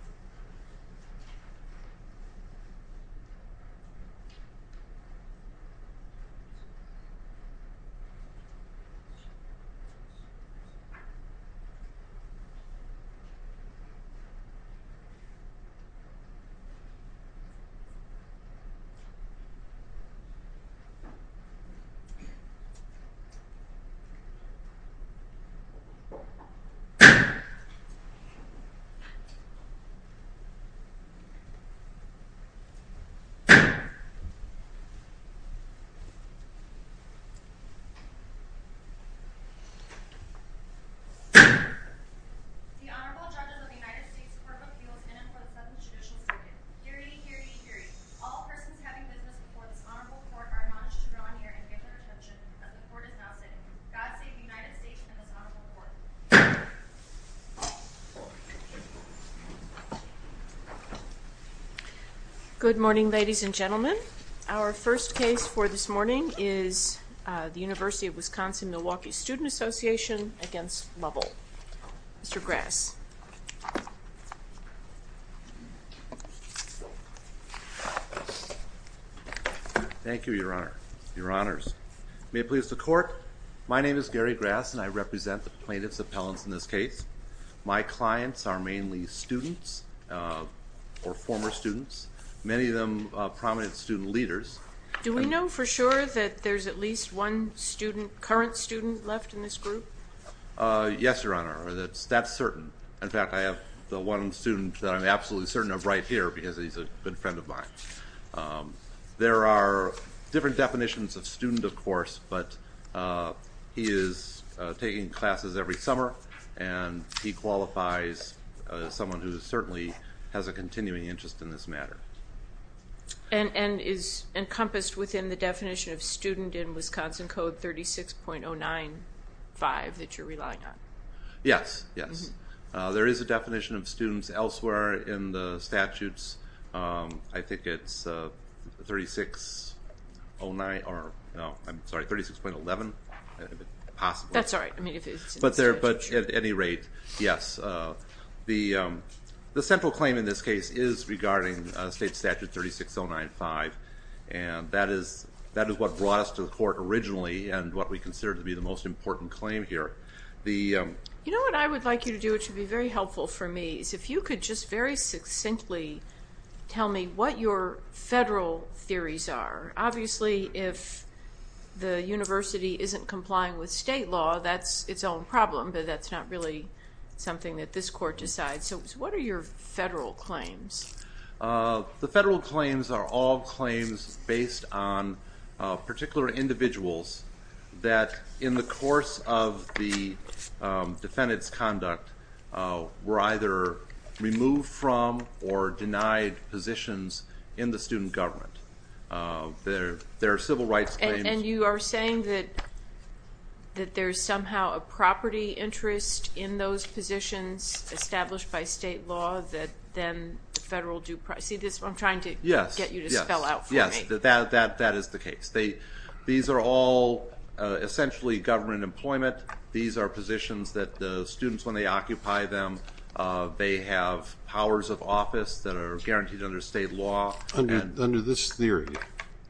Michael Lovell is a professor at the University of Washington, D.C. Michael Lovell is a professor at the University of Washington, D.C. The Honorable Judges of the United States Court of Appeals in and for the 7th Judicial Circuit. Hear ye, hear ye, hear ye. All persons having business before this honorable court are admonished to draw near and give their attention as the court is now sitting. God save the United States and this honorable court. Good morning ladies and gentlemen. Our first case for this morning is the University of Wisconsin-Milwaukee Student Association v. Lovell. Mr. Grass. Thank you, Your Honor. Your Honors. May it please the court, my name is Gary Grass and I represent the plaintiff's appellants in this case. My clients are mainly students or former students. Many of them prominent student leaders. Do we know for sure that there's at least one current student left in this group? Yes, Your Honor. That's certain. In fact, I have the one student that I'm absolutely certain of right here because he's a good friend of mine. There are different definitions of student, of course, but he is taking classes every And is encompassed within the definition of student in Wisconsin Code 36.095 that you're relying on? Yes. Yes. There is a definition of students elsewhere in the statutes. I think it's 36.09 or no, I'm sorry, 36.11 possibly. That's all right. But at any rate, yes. The central claim in this case is regarding state statute 36.095 and that is what brought us to the court originally and what we consider to be the most important claim here. You know what I would like you to do, which would be very helpful for me, is if you could just very succinctly tell me what your federal theories are. Obviously, if the university isn't complying with state law, that's its own problem, but that's not really something that this court decides. So what are your federal claims? The federal claims are all claims based on particular individuals that in the course of the defendant's conduct were either removed from or denied positions in the student government. There are civil rights claims. And you are saying that there's somehow a property interest in those positions established by state law that then the federal do... See, I'm trying to get you to spell out for me. Yes, that is the case. These are all essentially government employment. These are positions that the students, when they occupy them, they have powers of office that are guaranteed under state law. Under this theory,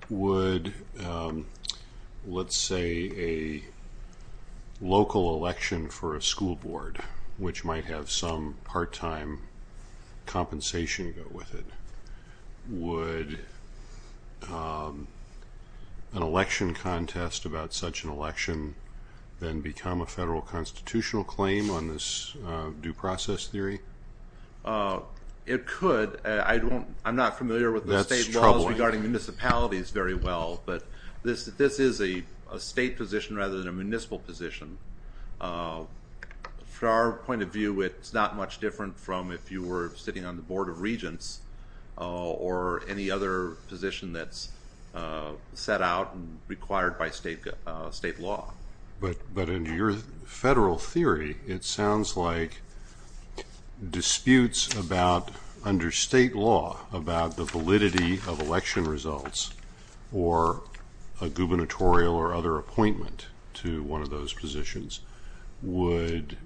would, let's say, a local election for a school board, which might have some part-time compensation go with it, would an election contest about such an election then become a federal constitutional claim on this due process theory? It could. I'm not familiar with the state laws regarding municipalities very well, but this is a state position rather than a municipal position. From our point of view, it's not much different from if you were sitting on the Board of Regents or any other position that's set out and required by state law. But in your federal theory, it sounds like disputes under state law about the validity of election results or a gubernatorial or other appointment to one of those positions would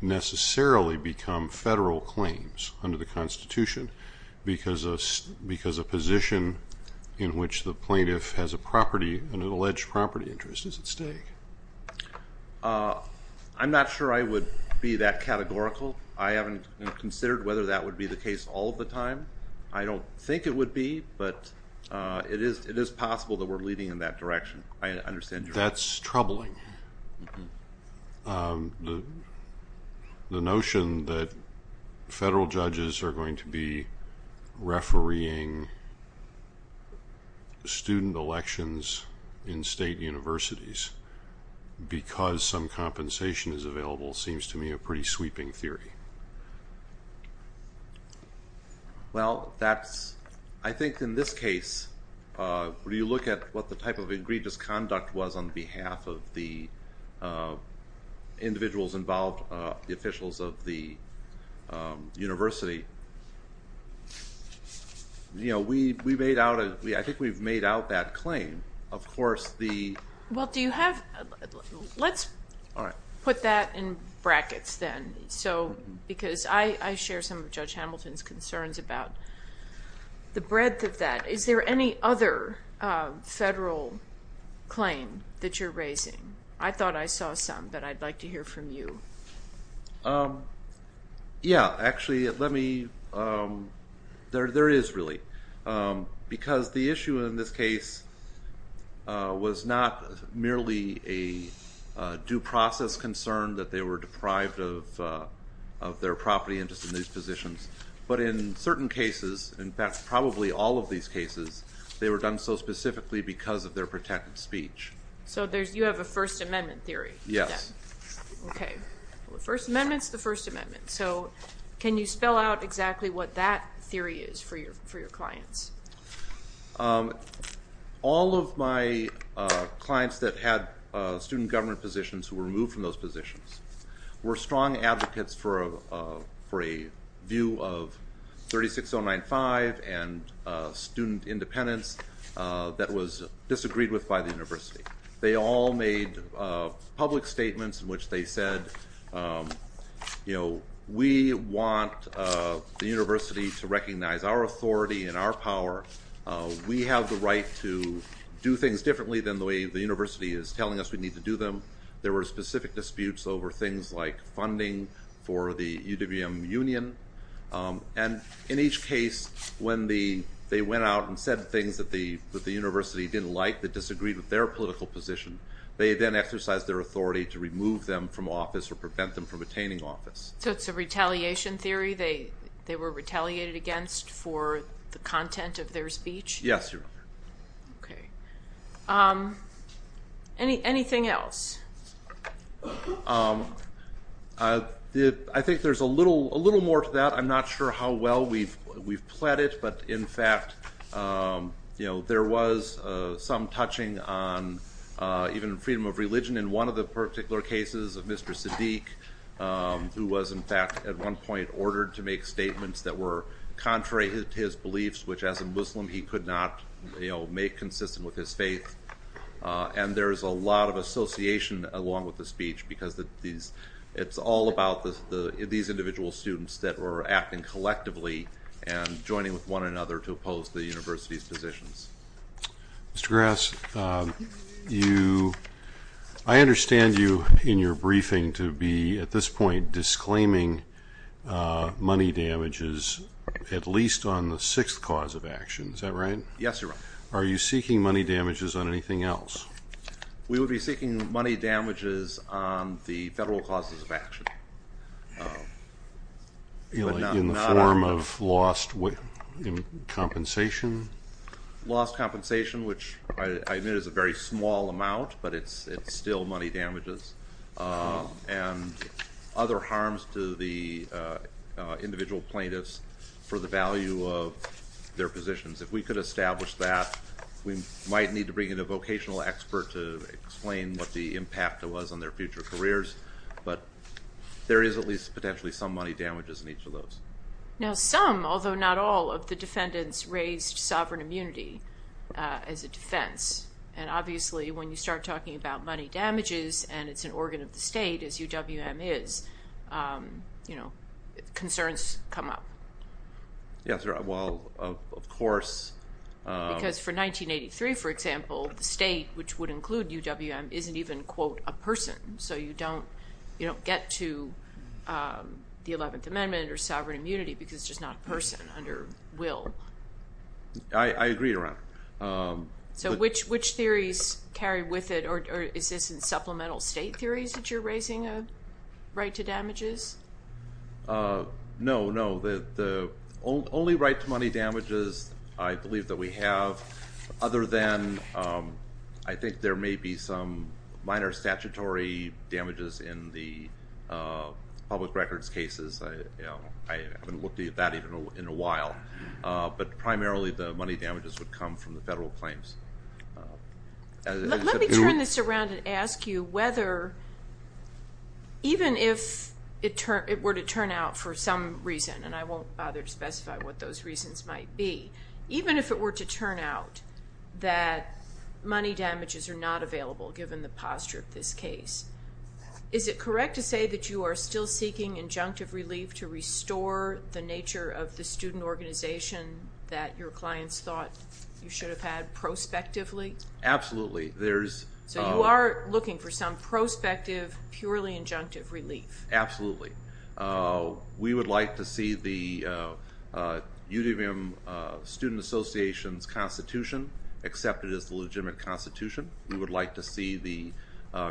necessarily become federal claims under the Constitution because a position in which the plaintiff has an alleged property interest is at stake. I'm not sure I would be that categorical. I haven't considered whether that would be the case all the time. I don't think it would be, but it is possible that we're leading in that direction. I understand your point. That's troubling. The notion that federal judges are going to be refereeing student elections in state universities because some compensation is available seems to me a pretty sweeping theory. Well, I think in this case, when you look at what the type of egregious conduct was on behalf of the individuals involved, the officials of the university, I think we've made out that claim. Let's put that in brackets then because I share some of Judge Hamilton's concerns about the breadth of that. Is there any other federal claim that you're raising? I thought I saw some, but I'd like to hear from you. Yeah, actually, there is really because the issue in this case was not merely a due process concern that they were deprived of their property interest in these positions, but in certain cases, in fact, probably all of these cases, they were done so specifically because of their protected speech. So you have a First Amendment theory? Yes. Okay. The First Amendment is the First Amendment. So can you spell out exactly what that theory is for your clients? All of my clients that had student government positions who were removed from those positions were strong advocates for a view of 36095 and student independence that was disagreed with by the university. They all made public statements in which they said, we want the university to recognize our authority and our power. We have the right to do things differently than the way the university is telling us we need to do them. There were specific disputes over things like funding for the UWM Union. And in each case, when they went out and said things that the university didn't like, that disagreed with their political position, they then exercised their authority to remove them from office or prevent them from attaining office. So it's a retaliation theory they were retaliated against for the content of their speech? Yes, Your Honor. Okay. Anything else? I think there's a little more to that. I'm not sure how well we've pled it. But in fact, there was some touching on even freedom of religion in one of the particular cases of Mr. Siddiq, who was, in fact, at one point ordered to make statements that were contrary to his beliefs, which, as a Muslim, he could not make consistent with his faith. And there is a lot of association along with the speech, because it's all about these individual students that were acting collectively and joining with one another to oppose the university's positions. Mr. Grass, I understand you, in your briefing, to be, at this point, disclaiming money damages at least on the sixth cause of action. Is that right? Yes, Your Honor. Are you seeking money damages on anything else? We would be seeking money damages on the federal causes of action. In the form of lost compensation? Lost compensation, which I admit is a very small amount, but it's still money damages. And other harms to the individual plaintiffs for the value of their positions. If we could establish that, we might need to bring in a vocational expert to explain what the impact was on their future careers. But there is at least potentially some money damages in each of those. Now, some, although not all, of the defendants raised sovereign immunity as a defense. And obviously, when you start talking about money damages, and it's an organ of the state, as UWM is, concerns come up. Yes, well, of course. Because for 1983, for example, the state, which would include UWM, isn't even, quote, a person. So you don't get to the 11th Amendment or sovereign immunity I agree, Your Honor. So which theories carry with it, or is this in supplemental state theories that you're raising a right to damages? No, no. The only right to money damages I believe that we have, other than I think there may be some minor statutory damages in the public records cases. I haven't looked at that in a while. But primarily the money damages would come from the federal claims. Let me turn this around and ask you whether, even if it were to turn out for some reason, and I won't bother to specify what those reasons might be, even if it were to turn out that money damages are not available, given the posture of this case, is it correct to say that you are still seeking injunctive relief to restore the nature of the student organization that your clients thought you should have had prospectively? Absolutely. So you are looking for some prospective, purely injunctive relief. Absolutely. We would like to see the UWM Student Association's constitution accepted as the legitimate constitution. We would like to see the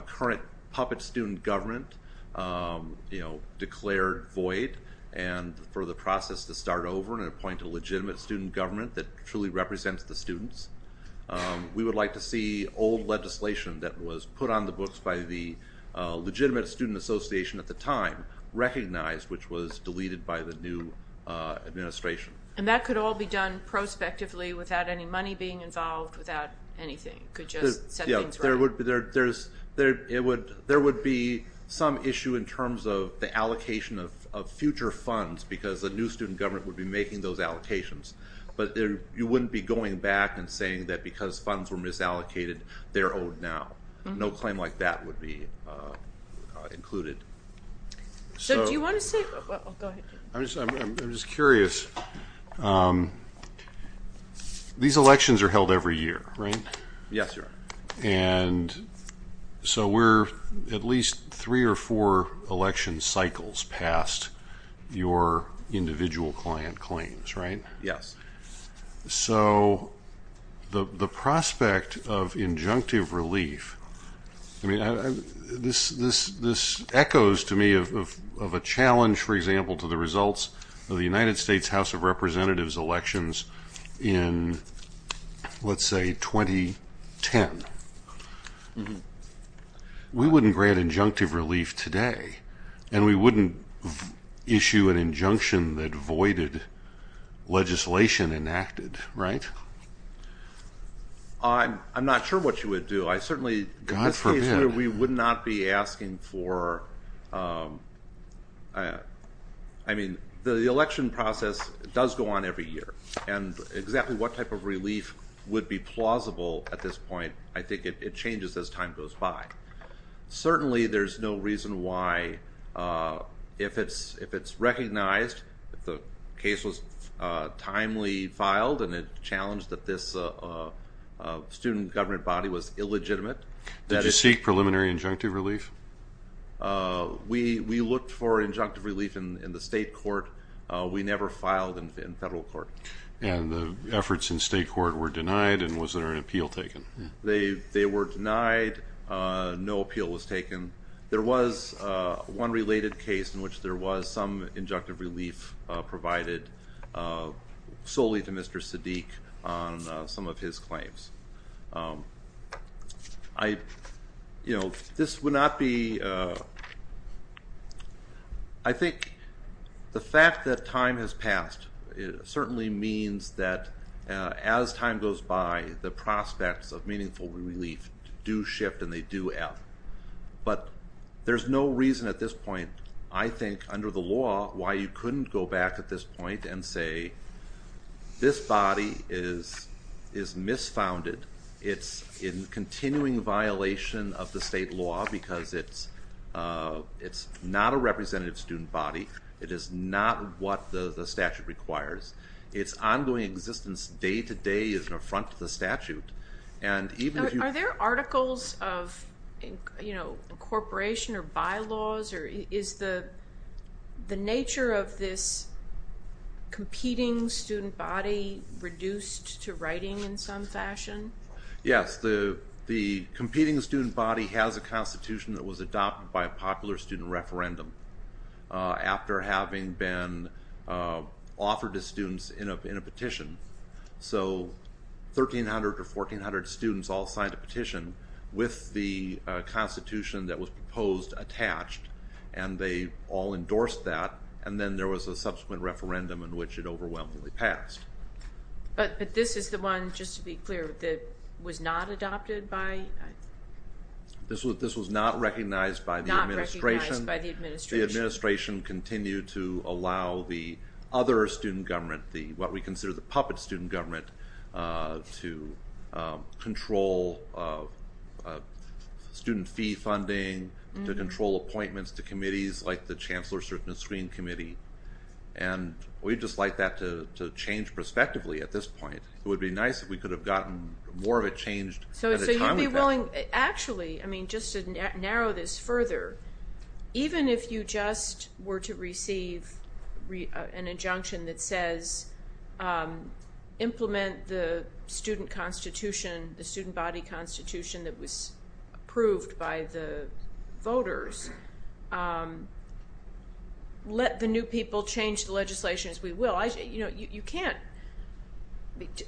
current puppet student government declared void and for the process to start over and appoint a legitimate student government that truly represents the students. We would like to see old legislation that was put on the books by the legitimate student association at the time recognized which was deleted by the new administration. And that could all be done prospectively without any money being involved, without anything. It could just set things right. There would be some issue in terms of the allocation of future funds because a new student government would be making those allocations. But you wouldn't be going back and saying that because funds were misallocated, they're owed now. No claim like that would be included. I'm just curious. These elections are held every year, right? Yes, Your Honor. And so we're at least three or four election cycles past your individual client claims, right? Yes. So the prospect of injunctive relief, this echoes to me of a challenge, for example, to the results of the United States House of Representatives elections in, let's say, 2010. We wouldn't grant injunctive relief today. And we wouldn't issue an injunction that voided legislation enacted, right? I'm not sure what you would do. God forbid. In this case, we would not be asking for... I mean, the election process does go on every year. And exactly what type of relief would be plausible at this point, I think it changes as time goes by. Certainly, there's no reason why if it's recognized that the case was timely filed and it challenged that this student government body was illegitimate... Did you seek preliminary injunctive relief? We looked for injunctive relief in the state court. We never filed in federal court. And the efforts in state court were denied, and was there an appeal taken? They were denied. No appeal was taken. There was one related case in which there was some injunctive relief provided solely to Mr. Sadiq on some of his claims. I, you know, this would not be... I think the fact that time has passed certainly means that as time goes by, the prospects of meaningful relief do shift and they do add. But there's no reason at this point, I think, under the law, why you couldn't go back at this point and say, this body is misfounded. It's in continuing violation of the state law because it's not a representative student body. It is not what the statute requires. Its ongoing existence day to day is an affront to the statute. Are there articles of incorporation or bylaws? Is the nature of this competing student body reduced to writing in some fashion? Yes, the competing student body has a constitution that was adopted by a popular student referendum after having been offered to students in a petition. So 1,300 or 1,400 students all signed a petition with the constitution that was proposed attached and they all endorsed that and then there was a subsequent referendum in which it overwhelmingly passed. But this is the one, just to be clear, that was not adopted by... This was not recognized by the administration. Not recognized by the administration. The administration continued to allow the other student government, what we consider the puppet student government, to control student fee funding, to control appointments to committees like the Chancellor's Certainty and Screen Committee. And we'd just like that to change prospectively at this point. It would be nice if we could have gotten more of it changed... So you'd be willing... Actually, just to narrow this further, even if you just were to receive an injunction that says implement the student constitution, the student body constitution that was approved by the voters, let the new people change the legislation as we will. You know, you can't...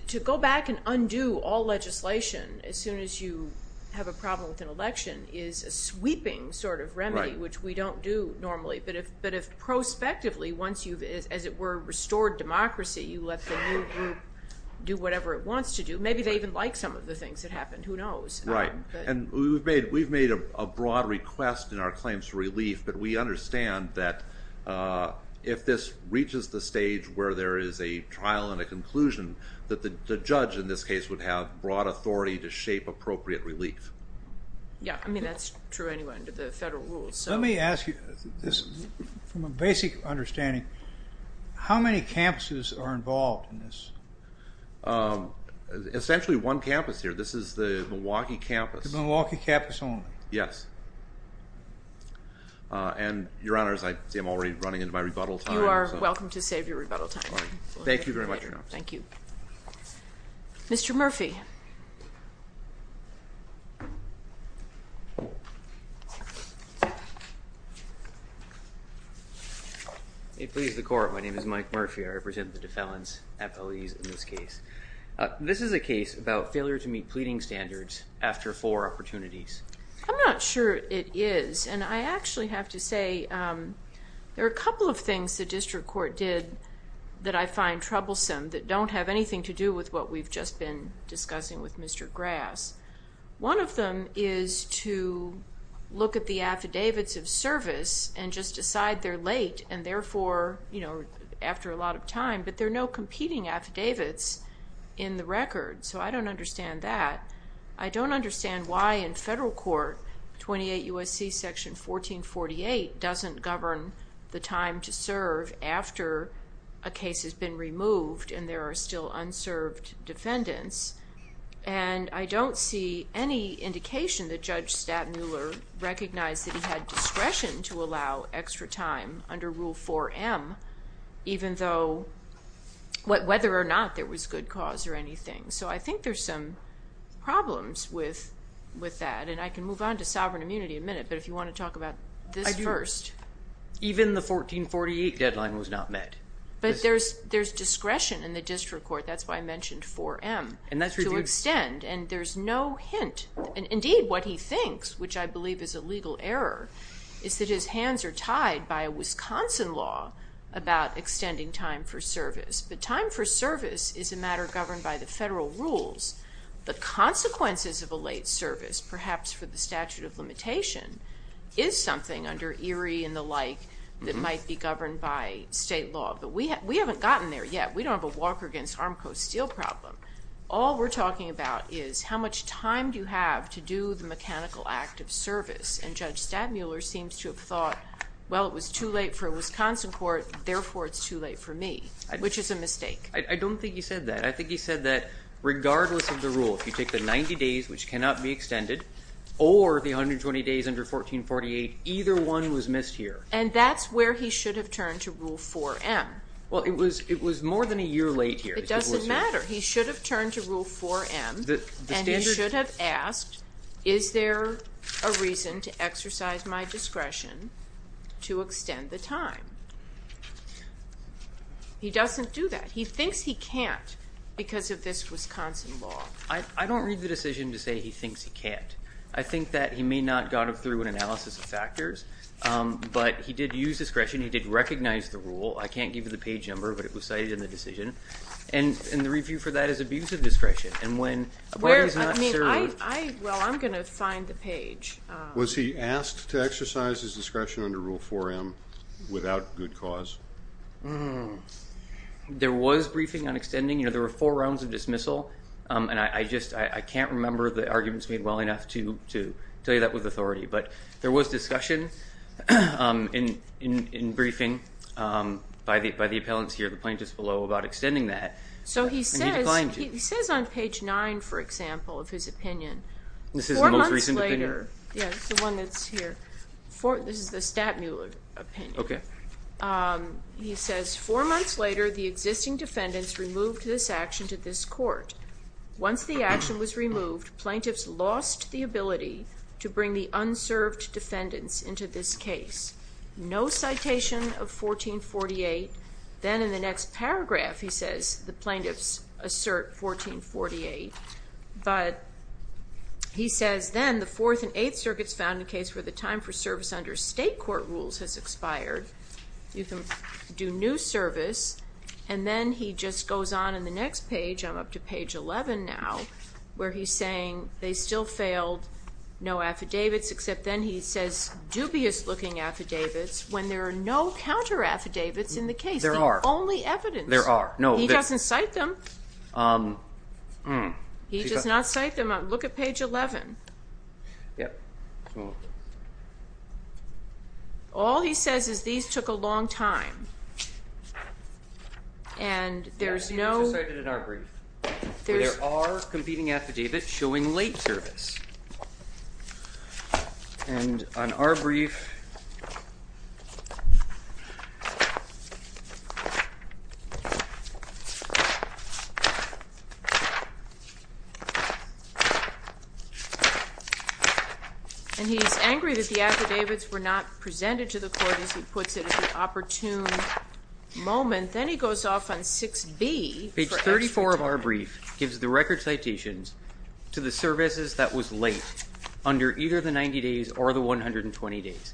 To go back and undo all legislation as soon as you have a problem with an election is a sweeping sort of remedy, which we don't do normally. But if prospectively, once you've, as it were, restored democracy, you let the new group do whatever it wants to do, maybe they even like some of the things that happened. Who knows? Right. And we've made a broad request in our claims for relief, but we understand that if this reaches the stage where there is a trial and a conclusion, that the judge, in this case, would have broad authority to shape appropriate relief. Yeah, I mean, that's true anyway under the federal rules. Let me ask you this from a basic understanding. How many campuses are involved in this? Essentially one campus here. This is the Milwaukee campus. The Milwaukee campus only. Yes. And, Your Honor, as I see, I'm already running into my rebuttal time. You are welcome to save your rebuttal time. Thank you very much, Your Honor. Thank you. Mr. Murphy. May it please the Court, my name is Mike Murphy. I represent the Defendants' Appellees in this case. This is a case about failure to meet pleading standards after four opportunities. I'm not sure it is, and I actually have to say there are a couple of things the district court did that I find troublesome, that don't have anything to do with what we've just been discussing with Mr. Grass. One of them is to look at the affidavits of service and just decide they're late, and therefore, you know, after a lot of time, but there are no competing affidavits in the record, so I don't understand that. I don't understand why in federal court, 28 U.S.C. section 1448 doesn't govern the time to serve after a case has been removed and there are still unserved defendants. And I don't see any indication that Judge Stattmuller recognized that he had discretion to allow extra time under Rule 4M, even though, whether or not there was good cause or anything. So I think there's some problems with that, and I can move on to sovereign immunity in a minute, but if you want to talk about this first. Even the 1448 deadline was not met. But there's discretion in the district court, that's why I mentioned 4M, to extend, and there's no hint. Indeed, what he thinks, which I believe is a legal error, is that his hands are tied by a Wisconsin law about extending time for service. But time for service is a matter governed by the federal rules. The consequences of a late service, perhaps for the statute of limitation, is something under Erie and the like that might be governed by state law. But we haven't gotten there yet. We don't have a Walker v. Armco Steel problem. All we're talking about is how much time do you have to do the mechanical act of service, and Judge Stattmuller seems to have thought, well, it was too late for a Wisconsin court, therefore it's too late for me, which is a mistake. I don't think he said that. I think he said that regardless of the rule, if you take the 90 days, which cannot be extended, or the 120 days under 1448, either one was missed here. And that's where he should have turned to Rule 4M. Well, it was more than a year late here. It doesn't matter. He should have turned to Rule 4M, and he should have asked, is there a reason to exercise my discretion to extend the time? He doesn't do that. He thinks he can't because of this Wisconsin law. I don't read the decision to say he thinks he can't. I think that he may not have gone through an analysis of factors, but he did use discretion. He did recognize the rule. I can't give you the page number, but it was cited in the decision. And the review for that is abusive discretion. And when a party is not served. Well, I'm going to find the page. Was he asked to exercise his discretion under Rule 4M without good cause? There was briefing on extending. There were four rounds of dismissal, and I can't remember the arguments made well enough to tell you that with authority. But there was discussion in briefing by the appellants here, the plaintiffs below, about extending that. So he says on page 9, for example, of his opinion. This is the most recent opinion? Yes, the one that's here. This is the Stattmuller opinion. Okay. He says, four months later, the existing defendants removed this action to this court. Once the action was removed, plaintiffs lost the ability to bring the unserved defendants into this case. No citation of 1448. Then in the next paragraph, he says, the plaintiffs assert 1448. But he says then the Fourth and Eighth Circuits found a case where the time for service under state court rules has expired. You can do new service. And then he just goes on in the next page. I'm up to page 11 now, where he's saying they still failed no affidavits, except then he says dubious-looking affidavits when there are no counter-affidavits in the case. There are. Only evidence. There are. He doesn't cite them. He does not cite them. Look at page 11. All he says is these took a long time. And there's no. There are competing affidavits showing late service. And on our brief. And he's angry that the affidavits were not presented to the court as he puts it at the opportune moment. Then he goes off on 6B. Page 34 of our brief gives the record citations to the services that was late under either the 90 days or the 120 days.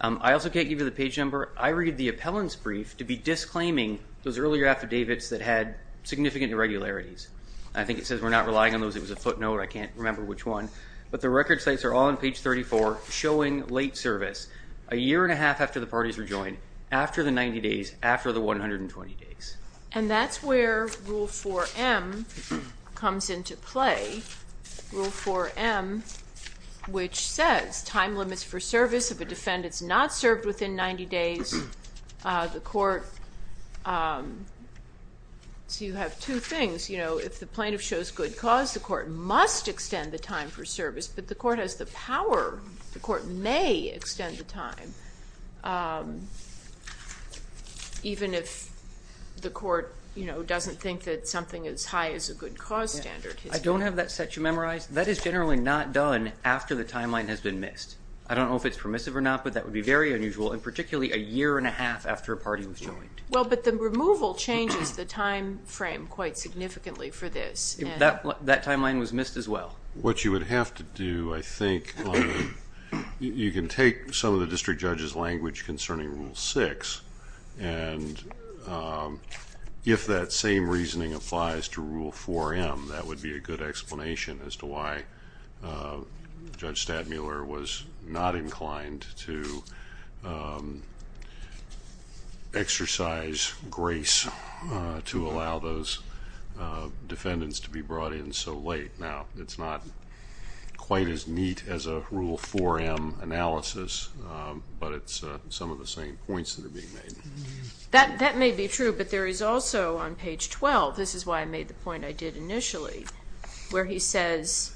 I also can't give you the page number. I read the appellant's brief to be disclaiming those earlier affidavits that had significant irregularities. I think it says we're not relying on those. It was a footnote. I can't remember which one. But the record cites are all on page 34 showing late service. A year and a half after the parties were joined. After the 90 days. After the 120 days. And that's where Rule 4M comes into play. Rule 4M, which says time limits for service of a defendant is not served within 90 days. The court. So you have two things. You know, if the plaintiff shows good cause, the court must extend the time for service. But the court has the power. The court may extend the time even if the court, you know, doesn't think that something as high as a good cause standard. I don't have that set. Do you memorize? That is generally not done after the timeline has been missed. I don't know if it's permissive or not, but that would be very unusual, and particularly a year and a half after a party was joined. Well, but the removal changes the time frame quite significantly for this. That timeline was missed as well. What you would have to do, I think, you can take some of the district judge's language concerning Rule 6, and if that same reasoning applies to Rule 4M, that would be a good explanation as to why Judge Stadmuller was not inclined to exercise grace to allow those defendants to be brought in so late. Now, it's not quite as neat as a Rule 4M analysis, but it's some of the same points that are being made. That may be true, but there is also on page 12, this is why I made the point I did initially, where he says,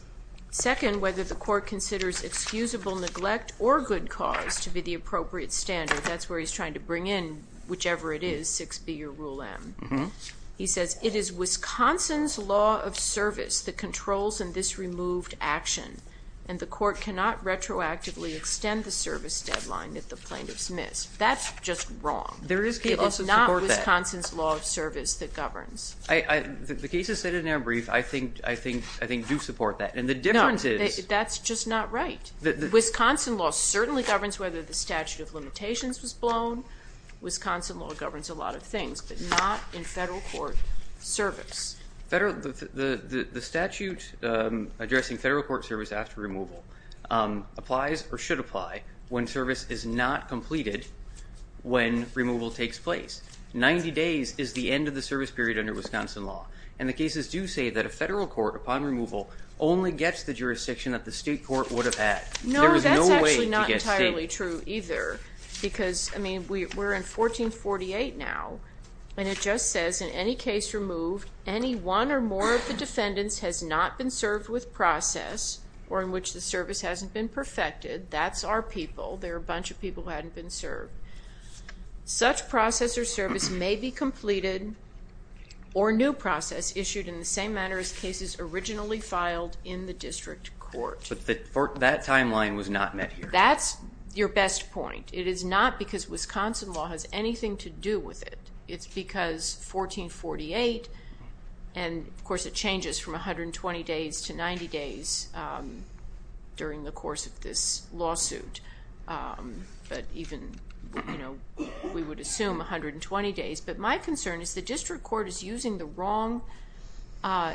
second, whether the court considers excusable neglect or good cause to be the appropriate standard. That's where he's trying to bring in whichever it is, 6B or Rule M. He says, it is Wisconsin's law of service that controls in this removed action, and the court cannot retroactively extend the service deadline if the plaintiff's missed. That's just wrong. There is people who support that. It is not Wisconsin's law of service that governs. The cases said in their brief, I think, do support that. And the difference is— No, that's just not right. Wisconsin law certainly governs whether the statute of limitations was blown. Wisconsin law governs a lot of things, but not in federal court service. The statute addressing federal court service after removal applies or should apply when service is not completed when removal takes place. Ninety days is the end of the service period under Wisconsin law, and the cases do say that a federal court, upon removal, only gets the jurisdiction that the state court would have had. No, that's actually not entirely true either, because, I mean, we're in 1448 now, and it just says, in any case removed, any one or more of the defendants has not been served with process or in which the service hasn't been perfected. That's our people. There are a bunch of people who haven't been served. Such process or service may be completed or new process issued in the same manner as cases originally filed in the district court. But that timeline was not met here. That's your best point. It is not because Wisconsin law has anything to do with it. It's because 1448, and, of course, it changes from 120 days to 90 days during the course of this lawsuit, but even, you know, we would assume 120 days. But my concern is the district court is using the wrong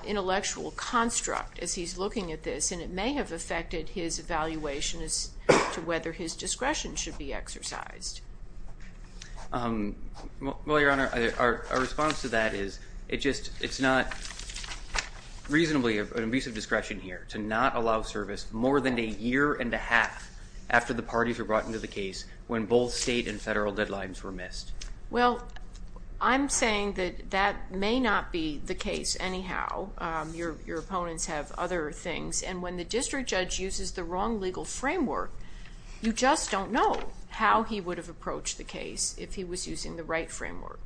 intellectual construct as he's looking at this, and it may have affected his evaluation as to whether his discretion should be exercised. Well, Your Honor, our response to that is it's not reasonably an abuse of discretion here to not allow service more than a year and a half after the parties were brought into the case when both state and federal deadlines were missed. Well, I'm saying that that may not be the case anyhow. Your opponents have other things, and when the district judge uses the wrong legal framework, you just don't know how he would have approached the case if he was using the right framework.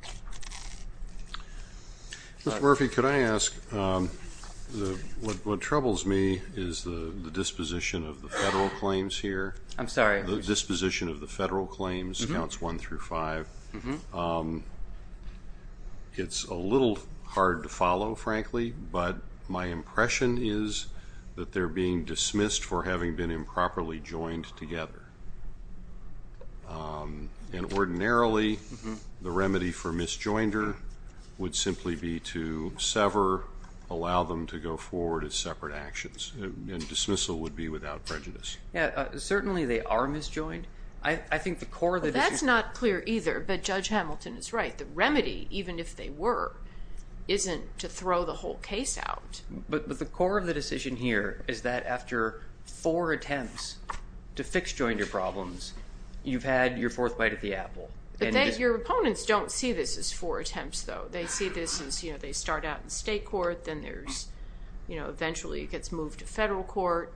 Ms. Murphy, could I ask, what troubles me is the disposition of the federal claims here. I'm sorry. The disposition of the federal claims, counts one through five. It's a little hard to follow, frankly, but my impression is that they're being dismissed for having been improperly joined together. And ordinarily, the remedy for misjoinder would simply be to sever, allow them to go forward as separate actions, and dismissal would be without prejudice. Certainly they are misjoined. That's not clear either, but Judge Hamilton is right. The remedy, even if they were, isn't to throw the whole case out. But the core of the decision here is that after four attempts to fix joinder problems, you've had your fourth bite of the apple. Your opponents don't see this as four attempts, though. They see this as they start out in state court, then eventually it gets moved to federal court.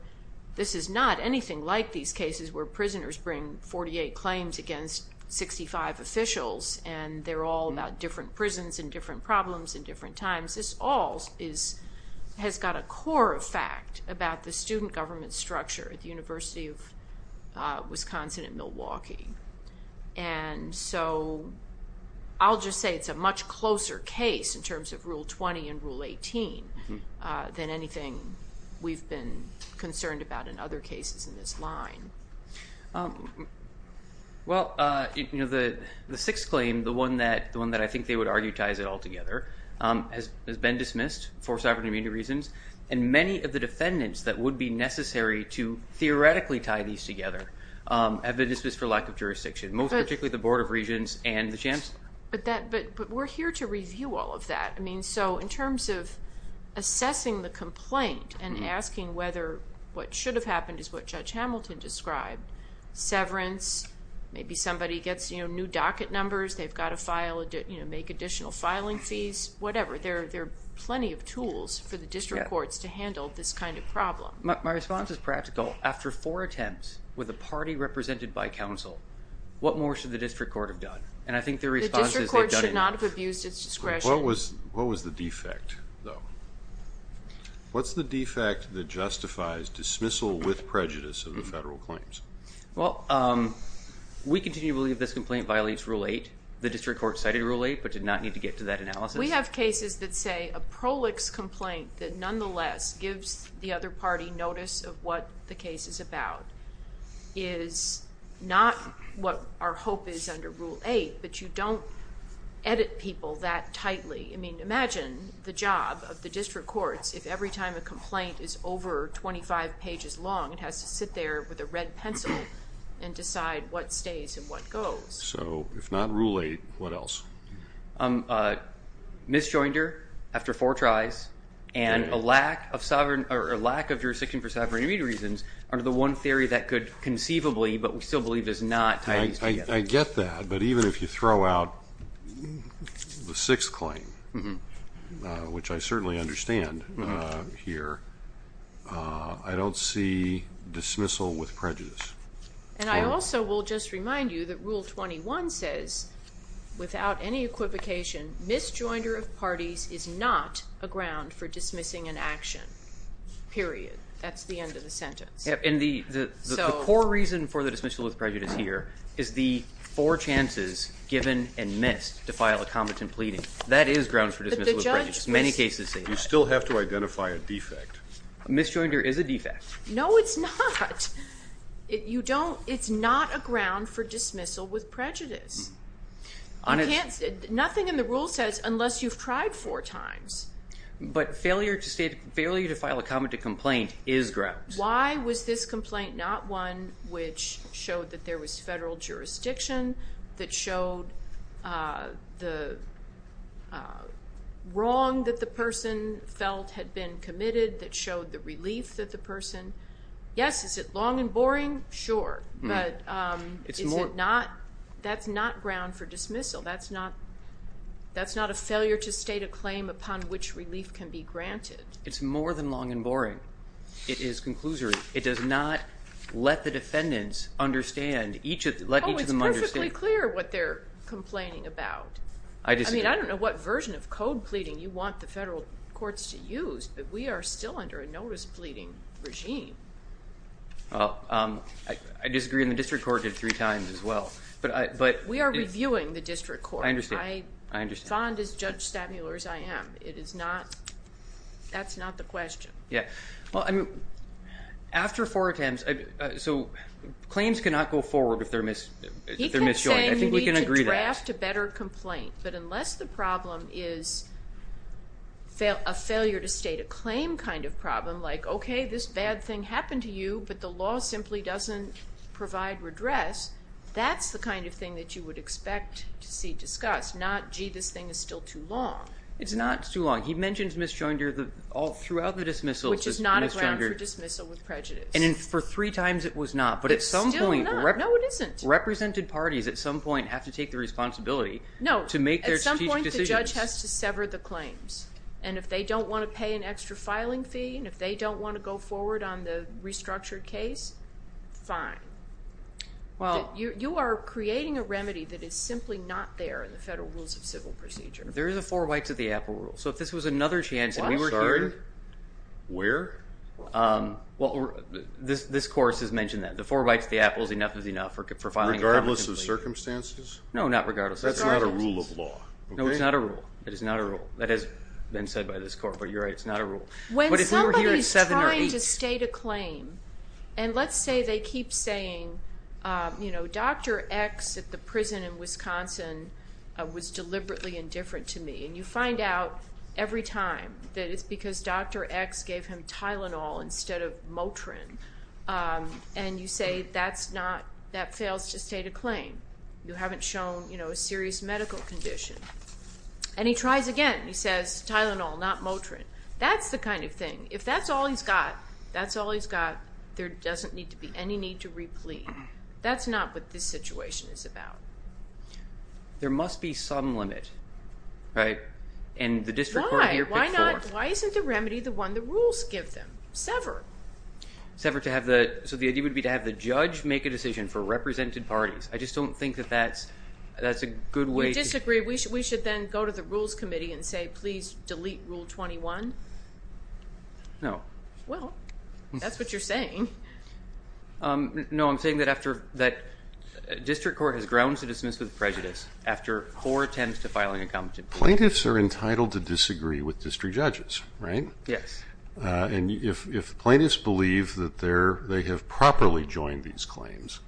This is not anything like these cases where prisoners bring 48 claims against 65 officials, and they're all about different prisons and different problems and different times. This all has got a core effect about the student government structure at the University of Wisconsin at Milwaukee. And so I'll just say it's a much closer case in terms of Rule 20 and Rule 18 than anything we've been concerned about in other cases in this line. Well, the sixth claim, the one that I think they would argue ties it all together, has been dismissed for sovereign immunity reasons, and many of the defendants that would be necessary to theoretically tie these together have been dismissed for lack of jurisdiction, most particularly the Board of Regents and the chancellor. But we're here to review all of that. So in terms of assessing the complaint and asking whether what should have happened is what Judge Hamilton described, severance, maybe somebody gets new docket numbers, they've got to make additional filing fees, whatever. There are plenty of tools for the district courts to handle this kind of problem. My response is practical. After four attempts with a party represented by counsel, what more should the district court have done? And I think their response is they've done enough. The district court should not have abused its discretion. What was the defect, though? What's the defect that justifies dismissal with prejudice of the federal claims? Well, we continue to believe this complaint violates Rule 8. The district court cited Rule 8 but did not need to get to that analysis. We have cases that say a prolix complaint that nonetheless gives the other party notice of what the case is about is not what our hope is under Rule 8, but you don't edit people that tightly. I mean, imagine the job of the district courts if every time a complaint is over 25 pages long, it has to sit there with a red pencil and decide what stays and what goes. So if not Rule 8, what else? Misjoinder after four tries and a lack of jurisdiction for sovereign immediate reasons under the one theory that could conceivably, but we still believe does not, tie these together. I get that, but even if you throw out the sixth claim, which I certainly understand here, I don't see dismissal with prejudice. And I also will just remind you that Rule 21 says without any equivocation, misjoinder of parties is not a ground for dismissing an action, period. That's the end of the sentence. And the core reason for the dismissal with prejudice here is the four chances given and missed to file a competent pleading. That is ground for dismissal with prejudice. Many cases say that. You still have to identify a defect. A misjoinder is a defect. No, it's not. It's not a ground for dismissal with prejudice. Nothing in the rule says unless you've tried four times. But failure to file a competent complaint is ground. Why was this complaint not one which showed that there was federal jurisdiction, that showed the wrong that the person felt had been committed, that showed the relief that the person. Yes, is it long and boring? Sure. But that's not ground for dismissal. That's not a failure to state a claim upon which relief can be granted. It's more than long and boring. It is conclusory. It does not let the defendants understand. Oh, it's perfectly clear what they're complaining about. I mean, I don't know what version of code pleading you want the federal courts to use, but we are still under a notice pleading regime. Well, I disagree, and the district court did it three times as well. We are reviewing the district court. I understand. As fond of Judge Stabler as I am. That's not the question. Yeah. Well, I mean, after four attempts. So claims cannot go forward if they're misjoined. I think we can agree that. He kept saying you need to draft a better complaint. But unless the problem is a failure to state a claim kind of problem, like, okay, this bad thing happened to you, but the law simply doesn't provide redress, that's the kind of thing that you would expect to see discussed, not, gee, this thing is still too long. It's not too long. He mentions misjoinder all throughout the dismissal. Which is not a ground for dismissal with prejudice. And for three times it was not. It's still not. No, it isn't. Represented parties at some point have to take the responsibility to make their No, at some point the judge has to sever the claims. And if they don't want to pay an extra filing fee, and if they don't want to go forward on the restructured case, fine. You are creating a remedy that is simply not there in the federal rules of civil procedure. There is a four whites with the apple rule. So if this was another chance and we were here. I'm sorry, where? Well, this course has mentioned that. Regardless of circumstances? No, not regardless. That's not a rule of law. No, it's not a rule. It is not a rule. That has been said by this court. But you're right, it's not a rule. When somebody is trying to state a claim, and let's say they keep saying, you know, Dr. X at the prison in Wisconsin was deliberately indifferent to me. X gave him Tylenol instead of Motrin. And you say that's not, that fails to state a claim. You haven't shown, you know, a serious medical condition. And he tries again. He says Tylenol, not Motrin. That's the kind of thing. If that's all he's got, that's all he's got. There doesn't need to be any need to replete. That's not what this situation is about. There must be some limit, right? And the district court here picked four. Why not? Why isn't the remedy the one the rules give them? Sever. Sever to have the, so the idea would be to have the judge make a decision for represented parties. I just don't think that that's a good way. You disagree. We should then go to the rules committee and say, please delete Rule 21. No. Well, that's what you're saying. No, I'm saying that after, that district court has grounds to dismiss with prejudice after four attempts to file an incompetent plea. Plaintiffs are entitled to disagree with district judges, right? Yes. And if plaintiffs believe that they have properly joined these claims,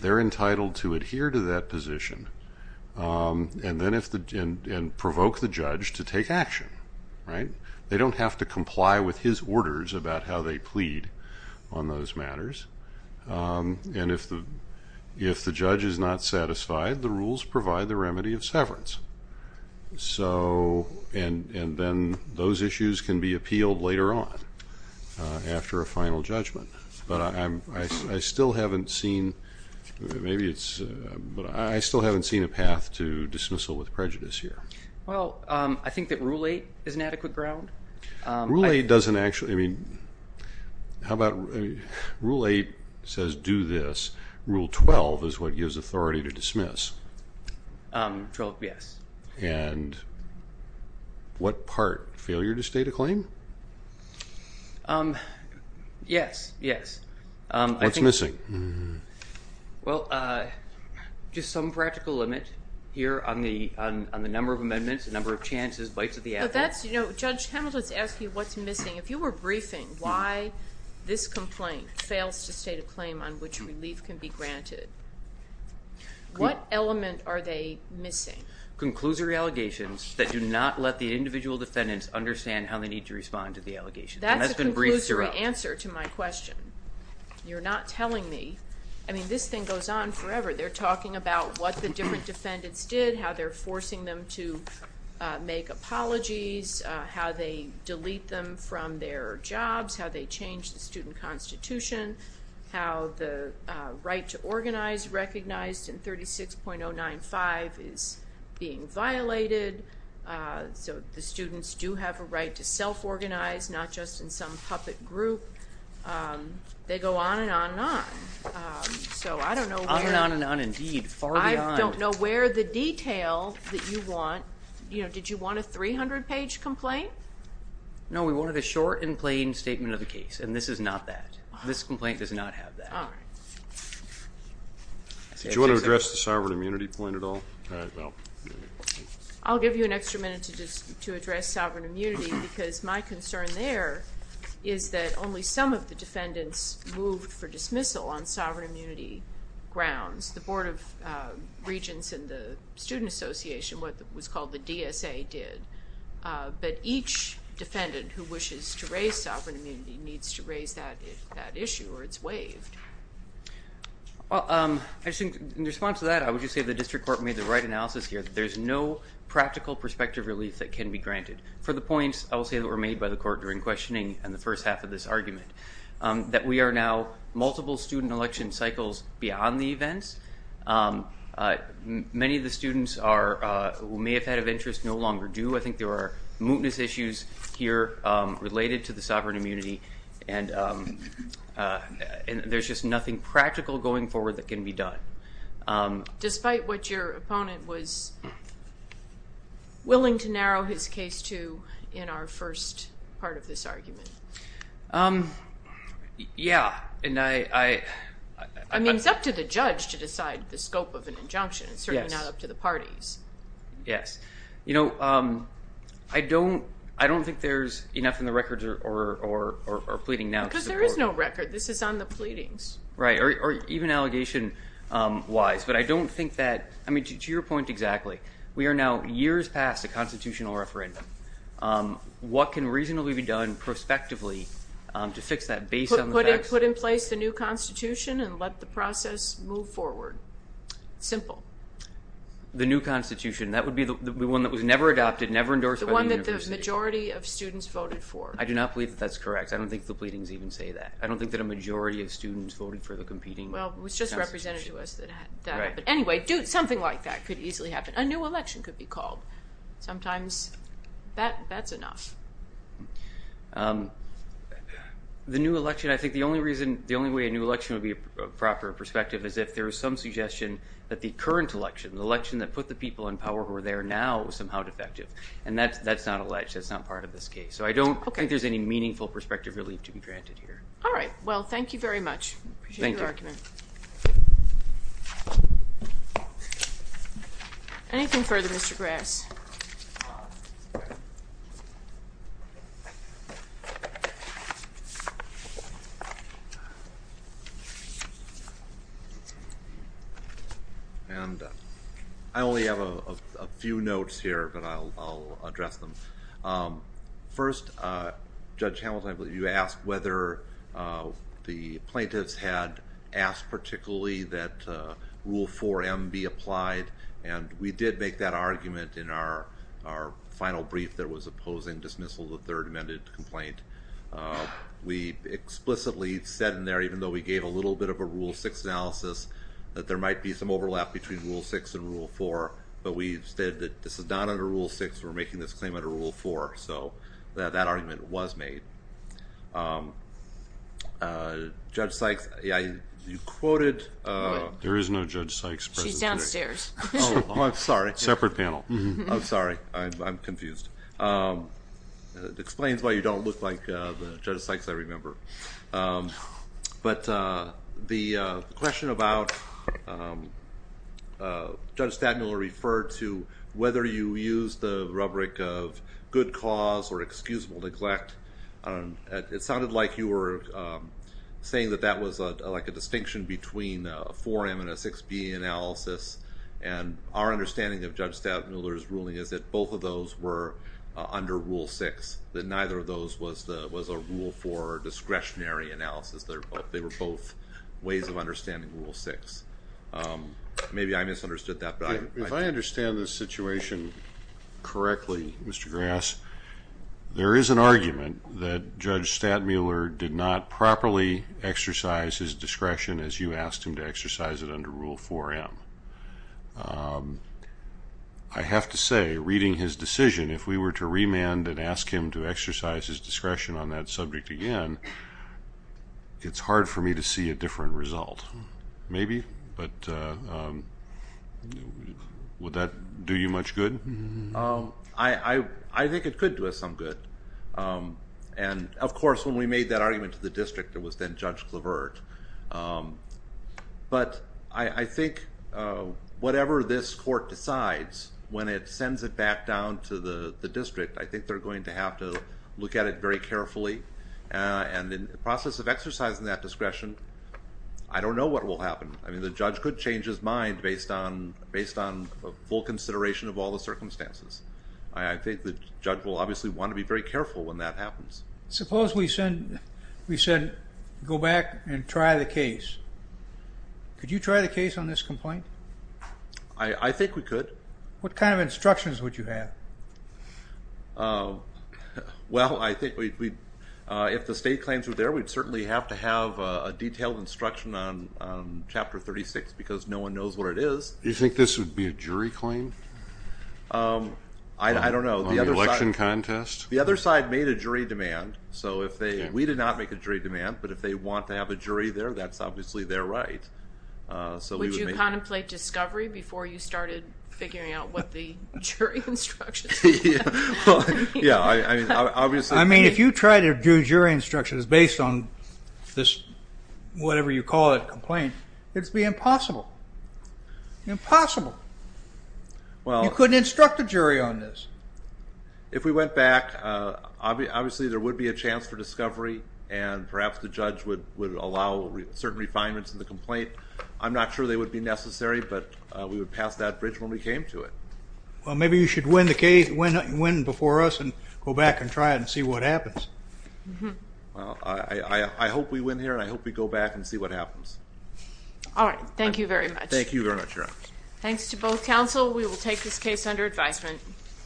they're entitled to adhere to that position and provoke the judge to take action, right? They don't have to comply with his orders about how they plead on those matters. And if the judge is not satisfied, the rules provide the remedy of severance. So, and then those issues can be appealed later on after a final judgment. But I still haven't seen, maybe it's, but I still haven't seen a path to dismissal with prejudice here. Well, I think that Rule 8 is an adequate ground. Rule 8 doesn't actually, I mean, how about Rule 8 says do this. Rule 12 is what gives authority to dismiss. Rule 12, yes. And what part? Failure to state a claim? Yes, yes. What's missing? Well, just some practical limit here on the number of amendments, the number of chances, bites of the apple. But that's, you know, Judge Hamilton's asking what's missing. If you were briefing why this complaint fails to state a claim on which relief can be granted, what element are they missing? Conclusory allegations that do not let the individual defendants understand how they need to respond to the allegations. That's a conclusory answer to my question. You're not telling me. I mean, this thing goes on forever. They're talking about what the different defendants did, how they're forcing them to make apologies, how they delete them from their jobs, how they changed the student constitution, how the right to organize recognized in 36.095 is being violated. So the students do have a right to self-organize, not just in some puppet group. They go on and on and on. So I don't know where. On and on and on indeed. Far beyond. I don't know where the detail that you want, you know, did you want a 300-page complaint? No, we wanted a short and plain statement of the case, and this is not that. This complaint does not have that. All right. Did you want to address the sovereign immunity point at all? No. I'll give you an extra minute to address sovereign immunity, because my concern there is that only some of the defendants moved for dismissal on sovereign immunity grounds. The Board of Regents and the Student Association, what was called the DSA, did. But each defendant who wishes to raise sovereign immunity needs to raise that issue or it's waived. Well, in response to that, I would just say the district court made the right analysis here. There's no practical prospective relief that can be granted. For the points I will say that were made by the court during questioning and the first half of this argument, that we are now multiple student election cycles beyond the events. Many of the students who may have had an interest no longer do. I think there are mootness issues here related to the sovereign immunity and there's just nothing practical going forward that can be done. Despite what your opponent was willing to narrow his case to in our first part of this argument? Yeah. I mean, it's up to the judge to decide the scope of an injunction. It's certainly not up to the parties. Yes. I don't think there's enough in the records or pleading now. Because there is no record. This is on the pleadings. Right. Or even allegation-wise. But I don't think that, I mean, to your point exactly, we are now years past a constitutional referendum. What can reasonably be done prospectively to fix that based on the facts? Put in place the new constitution and let the process move forward. Simple. The new constitution. That would be the one that was never adopted, never endorsed by the university. The one that the majority of students voted for. I do not believe that that's correct. I don't think the pleadings even say that. I don't think that a majority of students voted for the competing constitution. Well, it was just represented to us that that happened. Right. Anyway, something like that could easily happen. A new election could be called. Sometimes that's enough. The new election, I think the only reason, the only way a new election would be a proper perspective is if there is some suggestion that the current election, the election that put the people in power who are there now, was somehow defective. And that's not alleged. That's not part of this case. So I don't think there's any meaningful perspective really to be granted here. All right. Well, thank you very much. I appreciate your argument. Thank you. Anything further, Mr. Grass? I only have a few notes here, but I'll address them. First, Judge Hamilton, I believe you asked whether the plaintiffs had asked particularly that Rule 4M be applied. And we did make that argument in our final brief that was opposing dismissal of the third amended complaint. We explicitly said in there, even though we gave a little bit of a Rule 6 analysis, that there might be some overlap between Rule 6 and Rule 4, but we stated that this is not under Rule 6. We're making this claim under Rule 4. So that argument was made. Judge Sykes, you quoted... There is no Judge Sykes present today. Oh, I'm sorry. Separate panel. I'm sorry. I'm confused. It explains why you don't look like the Judge Sykes I remember. But the question about Judge Stadmiller referred to whether you used the rubric of good cause or excusable neglect. It sounded like you were saying that that was like a distinction between a 4M and a 6B analysis. And our understanding of Judge Stadmiller's ruling is that both of those were under Rule 6, that neither of those was a Rule 4 discretionary analysis. They were both ways of understanding Rule 6. Maybe I misunderstood that. If I understand this situation correctly, Mr. Grass, there is an argument that Judge Stadmiller did not properly exercise his discretion to exercise it under Rule 4M. I have to say, reading his decision, if we were to remand and ask him to exercise his discretion on that subject again, it's hard for me to see a different result. Maybe, but would that do you much good? I think it could do us some good. And, of course, when we made that argument to the district, it was then Judge Clavert. But I think whatever this court decides, when it sends it back down to the district, I think they're going to have to look at it very carefully. And in the process of exercising that discretion, I don't know what will happen. I mean, the judge could change his mind based on full consideration of all the circumstances. I think the judge will obviously want to be very careful when that happens. Suppose we said go back and try the case. Could you try the case on this complaint? I think we could. What kind of instructions would you have? Well, I think if the state claims were there, we'd certainly have to have a detailed instruction on Chapter 36, because no one knows what it is. Do you think this would be a jury claim? I don't know. On the election contest? The other side made a jury demand. We did not make a jury demand, but if they want to have a jury there, that's obviously their right. Would you contemplate discovery before you started figuring out what the jury instructions were? Yeah, obviously. I mean, if you try to do jury instructions based on this, whatever you call it, complaint, it would be impossible. Impossible. You couldn't instruct a jury on this. If we went back, obviously there would be a chance for discovery, and perhaps the judge would allow certain refinements in the complaint. I'm not sure they would be necessary, but we would pass that bridge when we came to it. Well, maybe you should win before us and go back and try it and see what happens. I hope we win here, and I hope we go back and see what happens. All right. Thank you very much. Thank you very much, Your Honor. Thanks to both counsel. We will take this case under advisement.